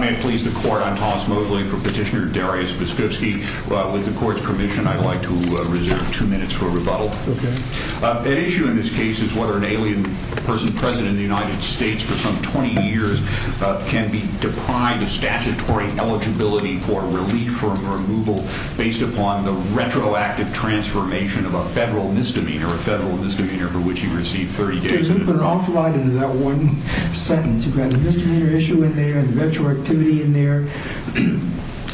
May it please the Court, I'm Thomas Mosley for Petitioner Darius Biskupski. With the Court's permission, I'd like to reserve two minutes for a rebuttal. The issue in this case is whether an alien person president of the United States for some 20 years can be deprived of statutory eligibility for relief from removal based upon the retroactive transformation of a federal misdemeanor, a federal misdemeanor for which he received 30 days in prison. You put an awful lot into that one sentence. You've got a misdemeanor issue in there, a retroactivity in there.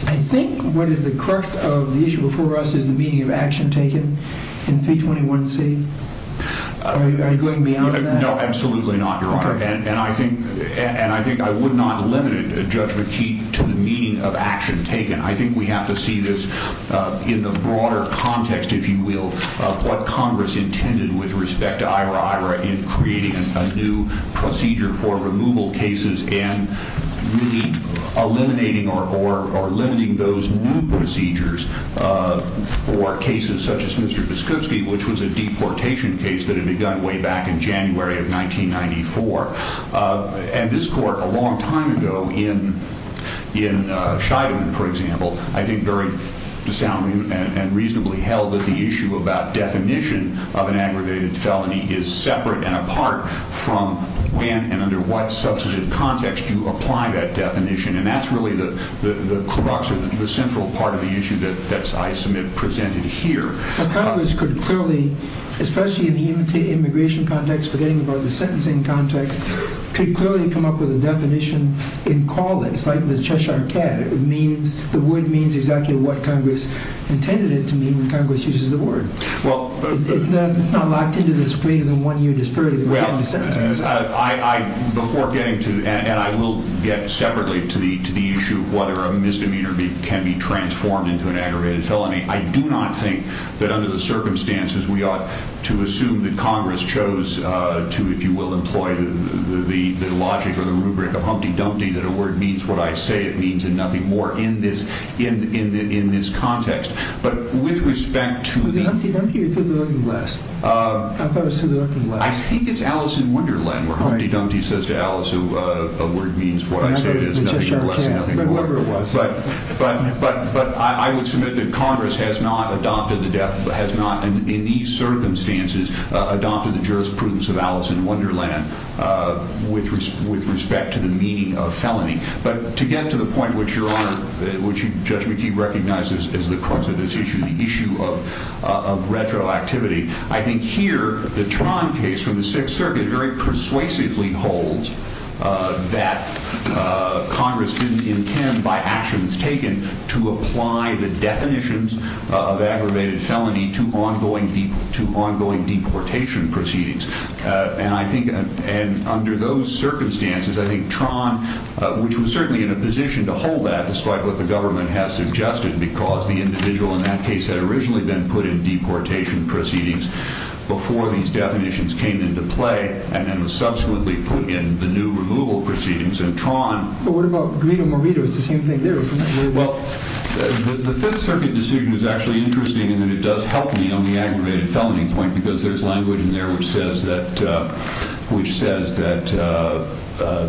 I think what is the crux of the issue before us is the meaning of action taken in 321C. Are you going beyond that? No, absolutely not, Your Honor. I think I would not limit it, Judge McKee, to the meaning of action taken. I think we have to see this in the broader context, if you will, of what Congress intended with respect to IRA, IRA in creating a new procedure for removal cases and really eliminating or limiting those new procedures for cases such as Mr. Biskupski, which was a deportation case that had begun way back in January of 1994. This Court a long time ago in Scheidemann, for example, I think very soundly and reasonably held that the issue about definition of an aggravated felony is separate and apart from when and under what substantive context you apply that definition. That's really the crux or the issue. Clearly, especially in the immigration context, forgetting about the sentencing context, could clearly come up with a definition and call it. It's like the Cheshire cat. The word means exactly what Congress intended it to mean when Congress uses the word. It's not locked into this greater than one year disparity. Before getting to, and I will get separately to the issue of whether a misdemeanor can be transformed into an aggravated felony, I do not think that under the circumstances, we ought to assume that Congress chose to, if you will, employ the logic or the rubric of Humpty Dumpty, that a word means what I say it means and nothing more in this context. But with respect to the- Was it Humpty Dumpty or Through the Looking Glass? I thought it was Through the Looking Glass. I think it's Alice in Wonderland where Humpty Dumpty says to Alice, a word means what I say it means. Congress has not, in these circumstances, adopted the jurisprudence of Alice in Wonderland with respect to the meaning of felony. But to get to the point which your Honor, which Judge McKee recognizes is the crux of this issue, the issue of retroactivity, I think here, the Tron case from the Sixth Circuit very persuasively holds that Congress didn't intend, by actions taken, to apply the definitions of aggravated felony to ongoing deportation proceedings. And I think under those circumstances, I think Tron, which was certainly in a position to hold that, despite what the government has suggested, because the individual in that case had originally been put in deportation proceedings before these definitions came into play and then was subsequently put in the new removal proceedings. And Tron... But what about Grito-Morito? It's the same thing there, isn't it? Well, the Fifth Circuit decision is actually interesting in that it does help me on the aggravated felony point because there's language in there which says that, which says that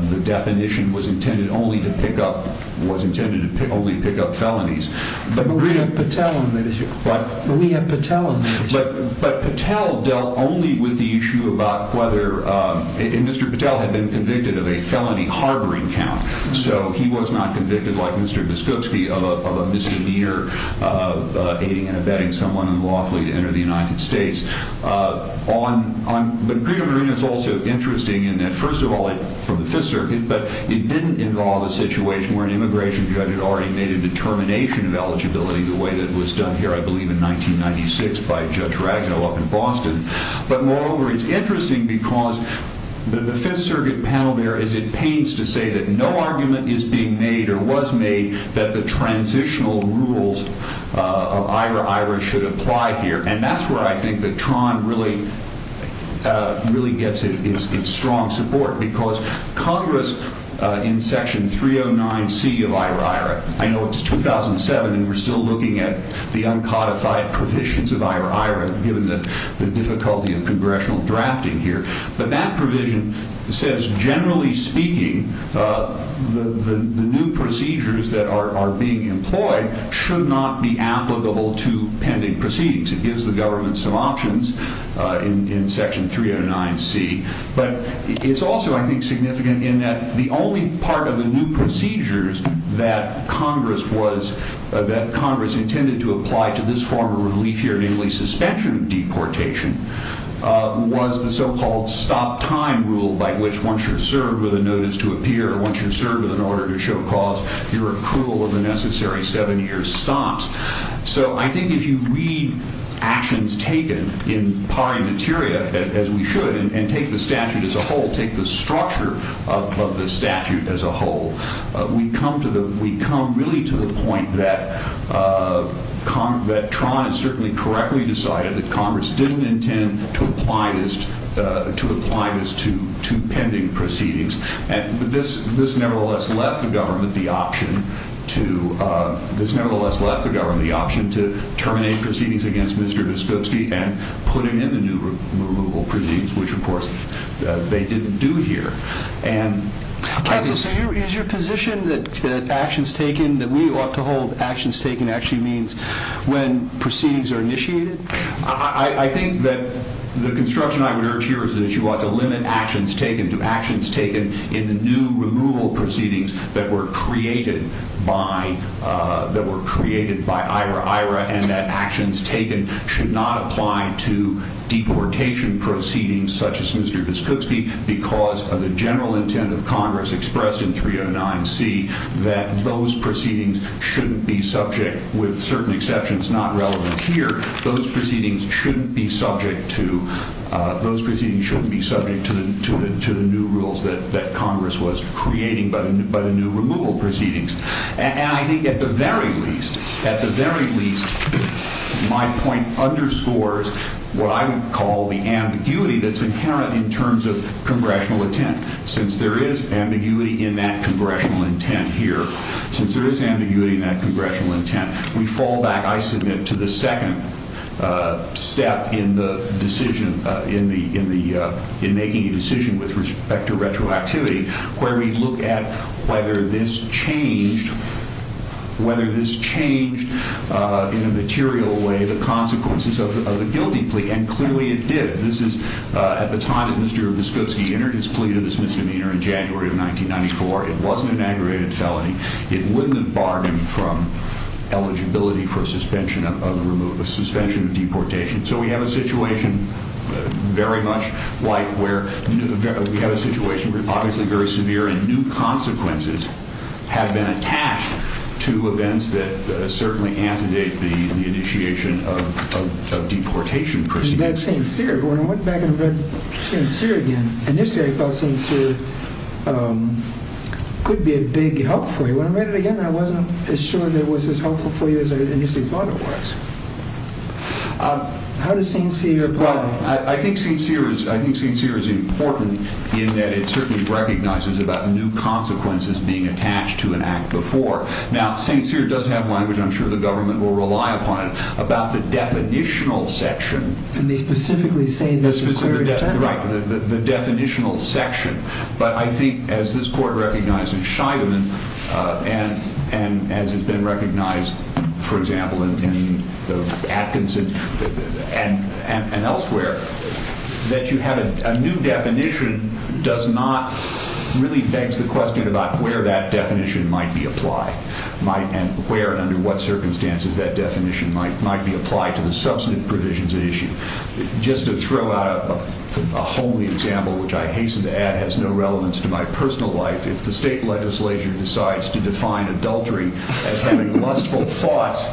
the definition was intended only to pick up, was intended to only pick up felonies. But Morito-Patel on that issue. What? Morito-Patel on that issue. But Patel dealt only with the issue about whether... And Mr. Patel had been convicted of a felony harboring count. So he was not convicted, like Mr. Biskupski, of a misdemeanor of aiding and abetting someone unlawfully to enter the United States. But Grito-Morito is also interesting in that, first of all, from the Fifth Circuit, but it didn't involve a situation where an immigration judge had already made a determination of eligibility the way that it was done here, I believe, in 1996 by Judge Ragno up in Boston. But moreover, it's interesting because the Fifth Circuit panel there is at pains to say that no argument is being made or was made that the transitional rules of IRA-IRA should apply here. And that's where I think that Tron really, really gets its strong support because Congress in Section 309C of IRA-IRA, I know it's 2007 and we're still looking at the uncodified provisions of IRA-IRA given the difficulty of congressional drafting here. But that provision says, generally speaking, the new procedures that are being employed should not be applicable to pending proceedings. It gives the government some options in Section 309C. But it's also, I think, significant in that the only part of the new procedures that Congress intended to apply to this form of relief here, namely suspension of deportation, was the so-called stop time rule by which once you're served with a notice to appear, once you're served with an order to show cause, your approval of the necessary seven-year stops. So I think if you read actions taken in pari materia, as we should, and take the statute as a whole, take the structure of the statute as a whole, we come really to the point that Tron has certainly correctly decided that Congress didn't intend to apply this to pending proceedings. And this nevertheless left the government the option to terminate proceedings against Mr. Dostoevsky and put him in the new removal proceedings, which, of course, they didn't do here. Counsel, so is your position that actions taken, that we ought to hold actions taken, actually means when proceedings are initiated? I think that the construction I would urge here is that you ought to limit actions taken to actions taken in the new removal proceedings that were created by IRA and that actions taken should not apply to deportation proceedings such as Mr. Dostoevsky because of the general intent of Congress expressed in 309C that those proceedings shouldn't be subject, with certain exceptions not relevant here, those proceedings shouldn't be subject to, those proceedings shouldn't be subject to the new rules that Congress was creating by the new removal proceedings. And I think at the very least, at the very least, my point underscores what I would call the ambiguity that's inherent in terms of congressional intent. Since there is ambiguity in that congressional intent here, since there is disfractivity in terms of this, the fiscal decision, the consulting complaint is my point there when I said that what we can do with retroactive action is not shovel in the sand of the action. It's not a murky, over eloquent overt saying, well you would expect that to happen. So we have a situation that is obviously very severe and new consequences have been attached to events that certainly antidate the initiation of deportation. When I went back and read St. Cyr again, initially I thought St. Cyr could be a big help for you. When I read it again, I wasn't as sure that it was as helpful for you as I initially thought it was. How does St. Cyr apply? I think St. Cyr is important in that it certainly recognizes about new consequences being attached to an act before. Now, St. Cyr does have language, and I'm sure the government will rely upon it, about the definitional section. And they specifically say in this inquiry... Right, the definitional section. But I think as this Court recognized in Scheidemann and as it's been recognized, for example, in Atkinson and elsewhere, that you have a new definition does not really beg the question about where that definition might be applied, and where and under what circumstances that definition might be applied to the substantive provisions at issue. Just to throw out a homely example, which I hasten to add has no relevance to my personal life, if the state legislature decides to define adultery as having lustful thoughts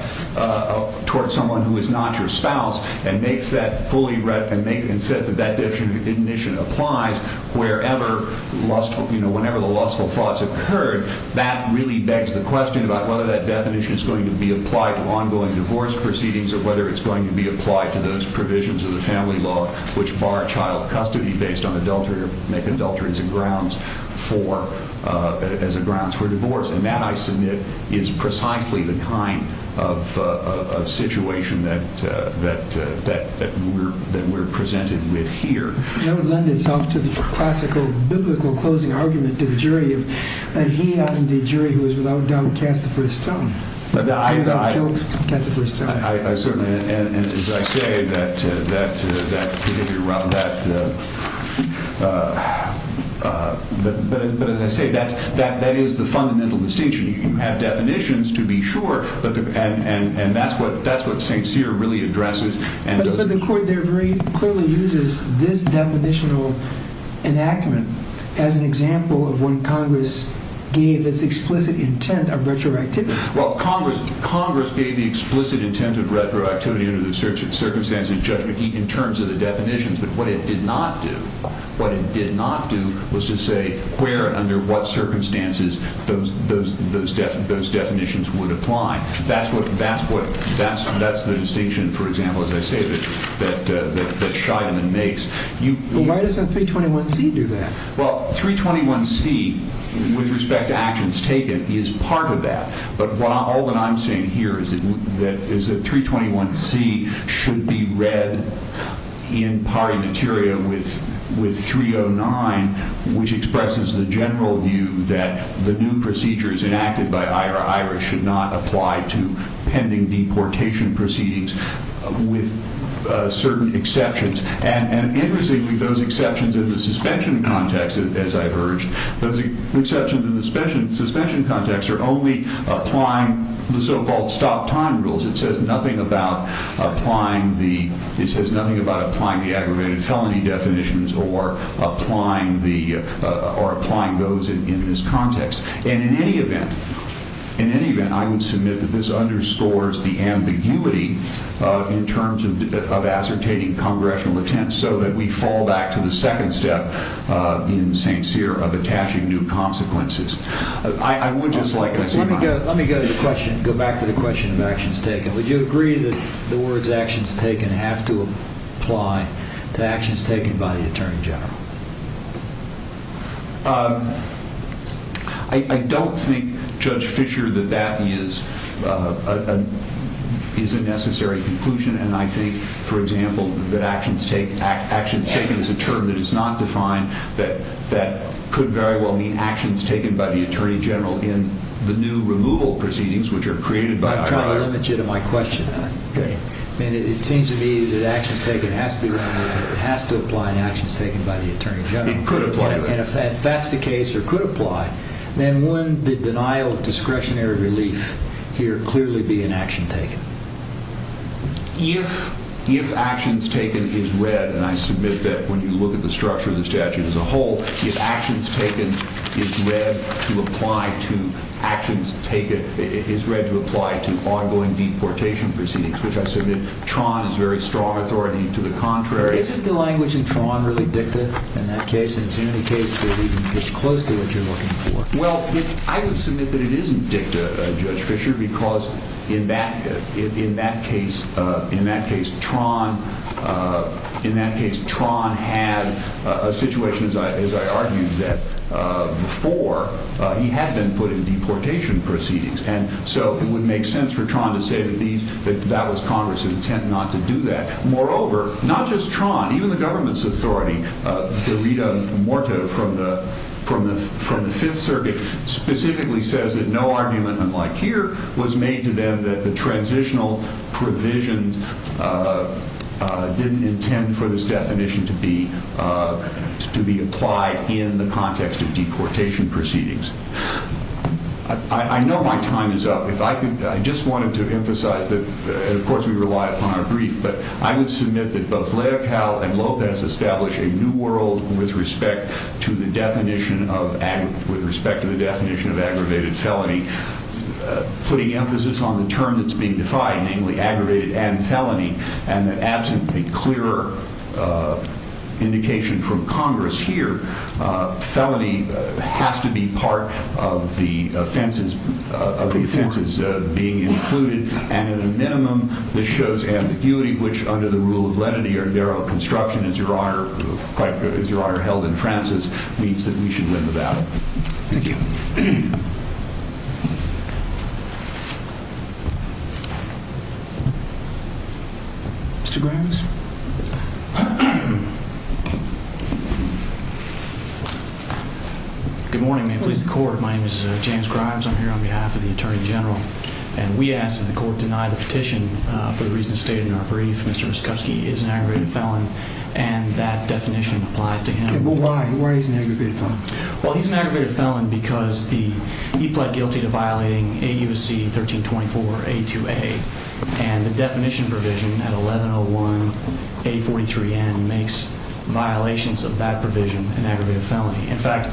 towards someone who is not your spouse and says that that definition applies whenever the lustful thoughts have occurred, that really begs the question about whether that definition is going to be applied to ongoing divorce proceedings or whether it's going to be applied to those provisions of the family law which bar child custody based on adultery or make adultery as a grounds for divorce. And that, I submit, is precisely the kind of situation that we're presented with here. That would lend itself to the classical biblical closing argument to the jury that he, and the jury, who is without doubt cast the first stone. I certainly, and as I say, that is the fundamental distinction. You have definitions, to be sure, and that's what St. Cyr really addresses. But the court there clearly uses this definitional enactment as an example of when Congress gave its explicit intent of retroactivity. Well, Congress gave the explicit intent of retroactivity under the circumstances of judgment in terms of the definitions, but what it did not do was to say where and under what circumstances those definitions would apply. That's the distinction, for example, as I say, that Scheidemann makes. But why doesn't 321C do that? Well, 321C, with respect to actions taken, is part of that. But all that I'm saying here is that 321C should be read in pari materia with 309, which expresses the general view that the new procedures enacted by Ira Irish should not apply to pending deportation proceedings with certain exceptions. And interestingly, those exceptions in the suspension context, as I've urged, those exceptions in the suspension context are only applying the so-called stop-time rules. It says nothing about applying the aggravated felony definitions or applying those in this context. And in any event, I would submit that this underscores the ambiguity in terms of ascertaining congressional intent so that we fall back to the second step in St. Cyr of attaching new consequences. I would just like to say that. Let me go back to the question of actions taken. Would you agree that the words actions taken have to apply to actions taken by the attorney general? I don't think, Judge Fischer, that that is a necessary conclusion. And I think, for example, that actions taken is a term that is not defined, that could very well mean actions taken by the attorney general in the new removal proceedings which are created by Ira Irish. I'm trying to limit you to my question. It seems to me that actions taken has to apply to actions taken by the attorney general. And if that's the case or could apply, then would the denial of discretionary relief here clearly be an action taken? If actions taken is read, and I submit that when you look at the structure of the statute as a whole, if actions taken is read to apply to ongoing deportation proceedings, which I submit Tron is very strong authority to the contrary. Isn't the language in Tron really dicta in that case? In too many cases, it's close to what you're looking for. Well, I would submit that it isn't dicta, Judge Fischer, because in that case, Tron had a situation, as I argued, that before he had been put in deportation proceedings. And so it would make sense for Tron to say that that was Congress's intent not to do that. Moreover, not just Tron, even the government's authority, the Rita Morta from the Fifth Circuit specifically says that no argument, unlike here, was made to them that the transitional provisions didn't intend for this definition to be applied in the context of deportation proceedings. I know my time is up. If I could, I just wanted to emphasize that, and of course we rely upon our brief, but I would submit that both Leopold and Lopez establish a new world with respect to the definition of aggravated felony, putting emphasis on the term that's being defined, namely aggravated and felony, and that absent a clearer indication from Congress here, felony has to be part of the offenses being included. And at a minimum, this shows ambiguity, which under the rule of lenity or derail construction, as your Honor held in Francis, means that we should win the battle. Thank you. Mr. Grimes? Good morning. May it please the Court. My name is James Grimes. I'm here on behalf of the Attorney General. And we ask that the Court deny the petition for the reasons stated in our brief. Mr. Muskovsky is an aggravated felon, and that definition applies to him. Okay, but why? Why is he an aggravated felon? Well, he's an aggravated felon because he pled guilty to violating AUC 1324A2A, and the definition provision at 1101A43N makes violations of that provision an aggravated felony. In fact,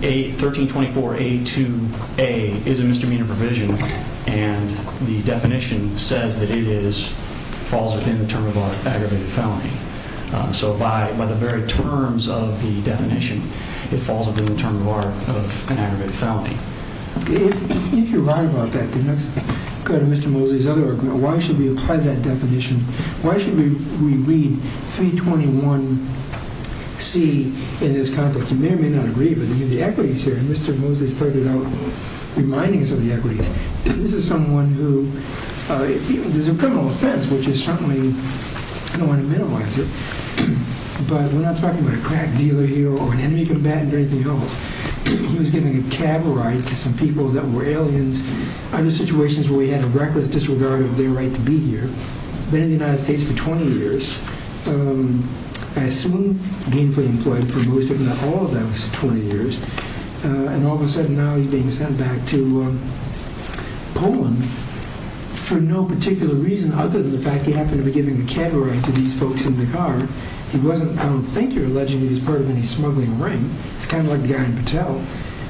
1324A2A is a misdemeanor provision, and the definition says that it falls within the term of an aggravated felony. So by the very terms of the definition, it falls within the term of an aggravated felony. If you're right about that, then let's go to Mr. Mosley's other argument. Why should we apply that definition? Why should we read 321C in this context? You may or may not agree, but even the equities here, and Mr. Mosley started out reminding us of the equities. This is someone who—there's a criminal offense, which is certainly—I don't want to minimize it, but we're not talking about a crack dealer here or an enemy combatant or anything else. He was giving a cab ride to some people that were aliens, other situations where he had a reckless disregard of their right to be here. Been in the United States for 20 years. I assume gainfully employed for most, if not all, of those 20 years, and all of a sudden now he's being sent back to Poland for no particular reason other than the fact he happened to be giving a cab ride to these folks in the car. He wasn't—I don't think you're alleging he was part of any smuggling ring. It's kind of like the guy in Patel,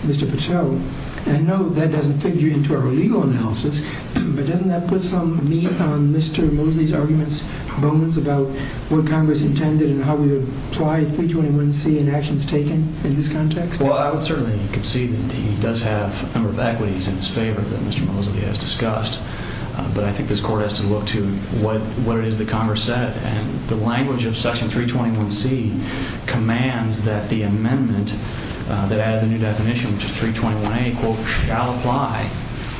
Mr. Patel. I know that doesn't figure into our legal analysis, but doesn't that put some meat on Mr. Mosley's arguments, bones, about what Congress intended and how we would apply 321C in actions taken in this context? Well, I would certainly concede that he does have a number of equities in his favor that Mr. Mosley has discussed, but I think this Court has to look to what it is that Congress said. The language of Section 321C commands that the amendment that added the new definition, which is 321A, quote, shall apply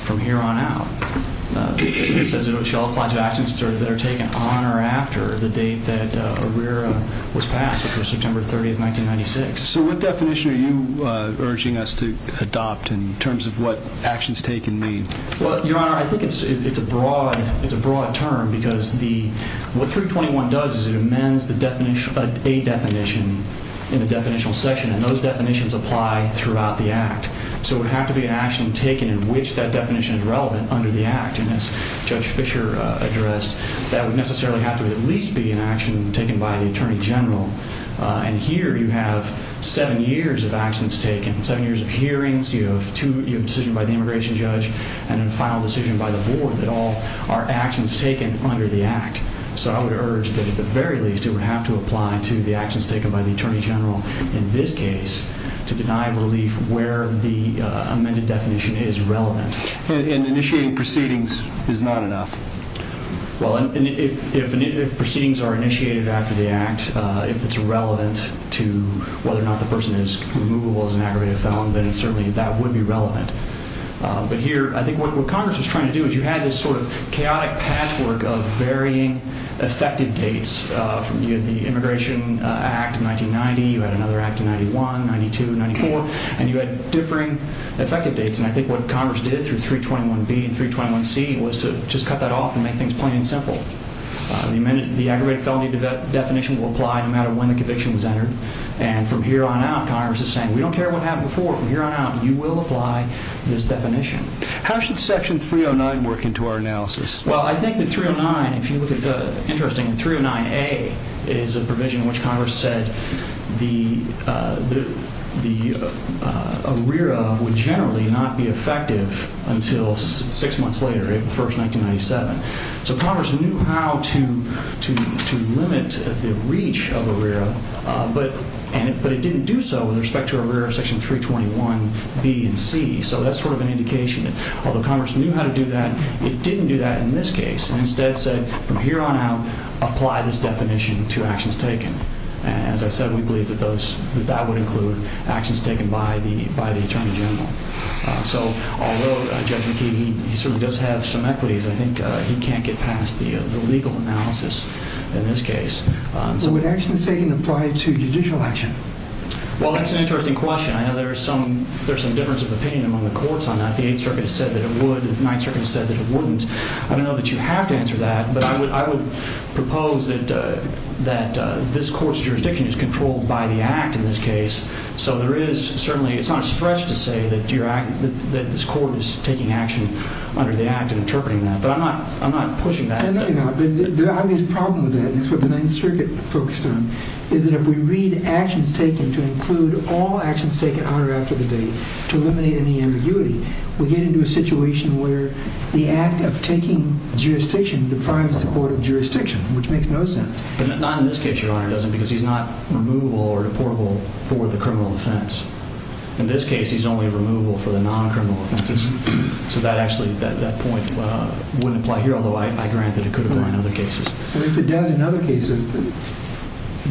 from here on out. It says it shall apply to actions that are taken on or after the date that ARERA was passed, which was September 30, 1996. So what definition are you urging us to adopt in terms of what actions taken mean? Well, Your Honor, I think it's a broad term because what 321 does is it amends the A definition in the definitional section, and those definitions apply throughout the Act. So it would have to be an action taken in which that definition is relevant under the Act, and as Judge Fischer addressed, that would necessarily have to at least be an action taken by the Attorney General. And here you have seven years of actions taken, seven years of hearings, you have a decision by the Immigration Judge and a final decision by the Board that all are actions taken under the Act. So I would urge that at the very least it would have to apply to the actions taken by the Attorney General in this case to deny relief where the amended definition is relevant. And initiating proceedings is not enough? Well, if proceedings are initiated after the Act, if it's relevant to whether or not the person is removable as an aggravated felon, then certainly that would be relevant. But here, I think what Congress was trying to do is you had this sort of chaotic patchwork of varying effective dates from the Immigration Act of 1990, you had another act in 91, 92, 94, and you had differing effective dates. And I think what Congress did through 321B and 321C was to just cut that off and make things plain and simple. The aggravated felony definition will apply no matter when the conviction was entered. And from here on out, Congress is saying, we don't care what happened before. From here on out, you will apply this definition. How should Section 309 work into our analysis? Well, I think that 309, if you look at the interesting 309A, is a provision in which Congress said the ARERA would generally not be effective until six months later, April 1, 1997. So Congress knew how to limit the reach of ARERA, but it didn't do so with respect to ARERA Section 321B and 321C. So that's sort of an indication that although Congress knew how to do that, it didn't do that in this case. It instead said, from here on out, apply this definition to actions taken. And as I said, we believe that that would include actions taken by the Attorney General. So although Judge McKee, he certainly does have some equities, I think he can't get past the legal analysis in this case. So would actions taken apply to judicial action? Well, that's an interesting question. I know there's some difference of opinion among the courts on that. The Eighth Circuit said that it would. The Ninth Circuit said that it wouldn't. I don't know that you have to answer that, but I would propose that this court's jurisdiction is controlled by the Act in this case. So there is certainly, it's not a stretch to say that this court is taking action under the Act and interpreting that. But I'm not pushing that. The obvious problem with that, and that's what the Ninth Circuit focused on, is that if we read actions taken to include all actions taken after the date to eliminate any ambiguity, we get into a situation where the act of taking jurisdiction deprives the court of jurisdiction, which makes no sense. But not in this case, Your Honor, does it, because he's not removable or deportable for the criminal offense. In this case, he's only removable for the non-criminal offenses. So that actually, that point wouldn't apply here, although I grant that it could apply in other cases. But if it does in other cases,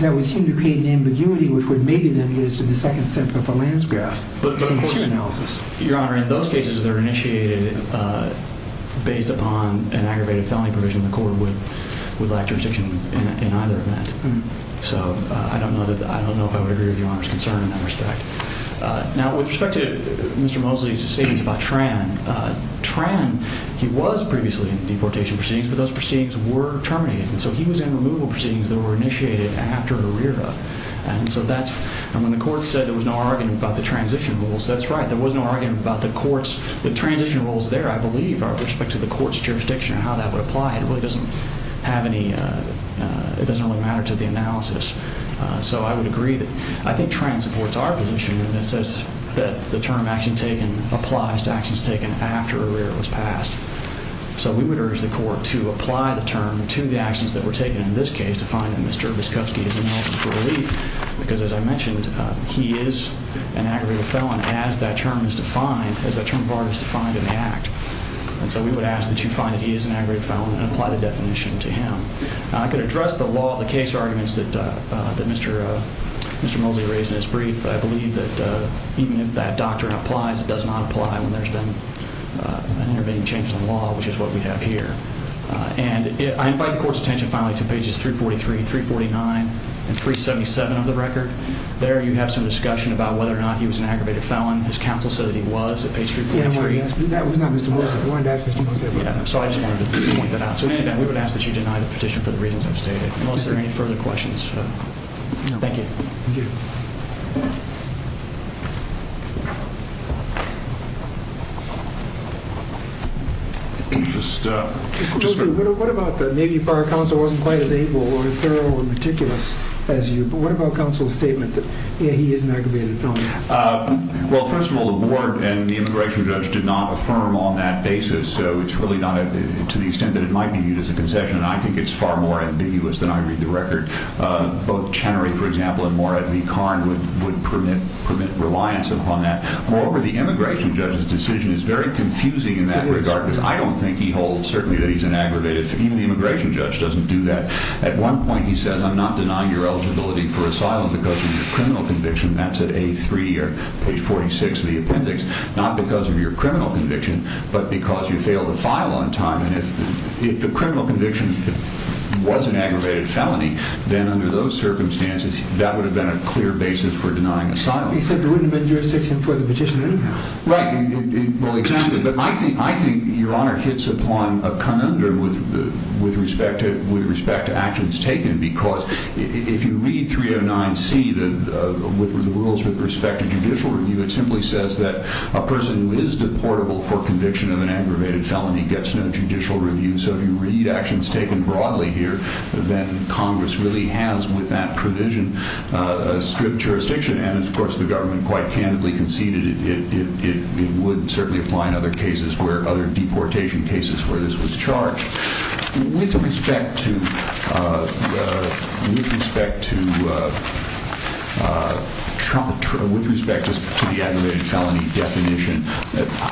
that would seem to create an ambiguity, which would maybe then get us to the second step of the Lance graph since your analysis. Your Honor, in those cases that are initiated based upon an aggravated felony provision, the court would lack jurisdiction in either of that. So I don't know if I would agree with Your Honor's concern in that respect. Now, with respect to Mr. Mosley's statements about Tran, Tran, he was previously in deportation proceedings, but those proceedings were terminated. And so he was in removable proceedings that were initiated after Herrera. And when the court said there was no argument about the transition rules, that's right. There was no argument about the court's, the transition rules there, I believe, with respect to the court's jurisdiction and how that would apply. It really doesn't have any, it doesn't really matter to the analysis. So I would agree that, I think Tran supports our position in that it says that the term action taken applies to actions taken after Herrera was passed. So we would urge the court to apply the term to the actions that were taken in this case to find that Mr. Viskovsky is ineligible for relief, because as I mentioned, he is an aggravated felon as that term is defined, as that term of art is defined in the act. And so we would ask that you find that he is an aggravated felon and apply the definition to him. Now, I could address the law, the case arguments that Mr. Mosley raised in his brief, but I believe that even if that doctrine applies, it does not apply when there's been an intervening change in the law, which is what we have here. And I invite the court's attention finally to pages 343, 349, and 377 of the record. There you have some discussion about whether or not he was an aggravated felon. His counsel said that he was at page 343. That was not Mr. Mosley. I wanted to ask Mr. Mosley about that. So I just wanted to point that out. So in any event, we would ask that you deny the petition for the reasons I've stated, unless there are any further questions. Thank you. Thank you. Mr. Mosley, what about maybe our counsel wasn't quite as able or thorough or meticulous as you, but what about counsel's statement that he is an aggravated felon? Well, first of all, the board and the immigration judge did not affirm on that basis, so it's really not to the extent that it might be used as a concession, and I think it's far more ambiguous than I read the record. Both Chenery, for example, and Morad V. Karn would permit reliance upon that. Moreover, the immigration judge's decision is very confusing in that regard, because I don't think he holds certainly that he's an aggravated felon. Even the immigration judge doesn't do that. At one point he says, I'm not denying your eligibility for asylum because of your criminal conviction. That's at A3 or page 46 of the appendix. Not because of your criminal conviction, but because you failed a file on time. If the criminal conviction was an aggravated felony, then under those circumstances, that would have been a clear basis for denying asylum. He said there wouldn't have been jurisdiction for the petition anyhow. Right. I think your Honor hits upon a conundrum with respect to actions taken, because if you read 309C, the rules with respect to judicial review, it simply says that a person who is deportable for conviction of an aggravated felony gets no judicial review. So if you read actions taken broadly here, then Congress really has, with that provision, a strict jurisdiction, and of course the government quite candidly conceded it would certainly apply in other cases where other deportation cases where this was charged. With respect to the aggravated felony definition,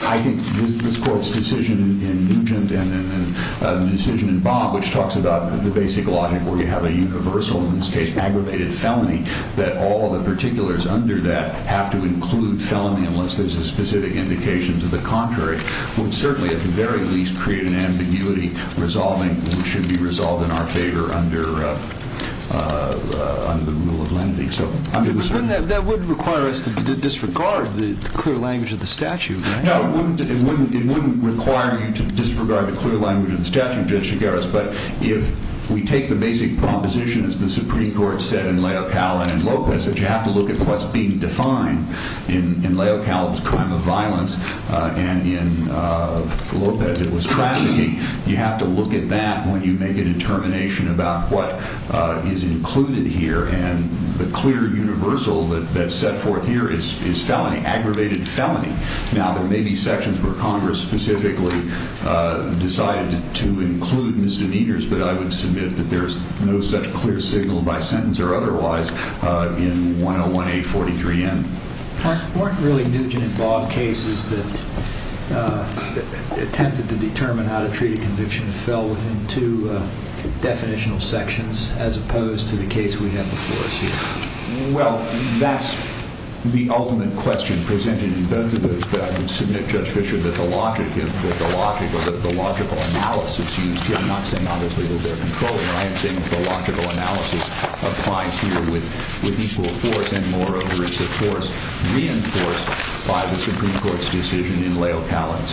I think this Court's decision in Nugent and the decision in Bob, which talks about the basic logic where you have a universal, in this case, aggravated felony, that all of the particulars under that have to include felony unless there's a specific indication to the contrary, would certainly, at the very least, create an ambiguity which should be resolved in our favor under the rule of lenity. That wouldn't require us to disregard the clear language of the statute, right? No, it wouldn't require you to disregard the clear language of the statute, Judge Chigueras, but if we take the basic proposition as the Supreme Court said in Leocal and in Lopez, that you have to look at what's being defined in Leocal, it was crime of violence, and in Lopez it was trafficking, you have to look at that when you make a determination about what is included here and the clear universal that's set forth here is felony, aggravated felony. Now, there may be sections where Congress specifically decided to include misdemeanors, but I would submit that there's no such clear signal by sentence or otherwise in 101-843-N. Weren't really Nugent and Bob cases that attempted to determine how to treat a conviction fell within two definitional sections as opposed to the case we have before us here? Well, that's the ultimate question presented in both of those, but I would submit, Judge Fischer, that the logical analysis used here, I'm not saying obviously that they're controlling, I am saying that the logical analysis applies here with equal force and, moreover, it's a force reinforced by the Supreme Court's decision in Leocal and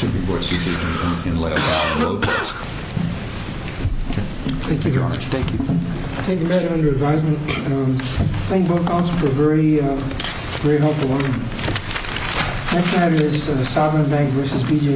Lopez.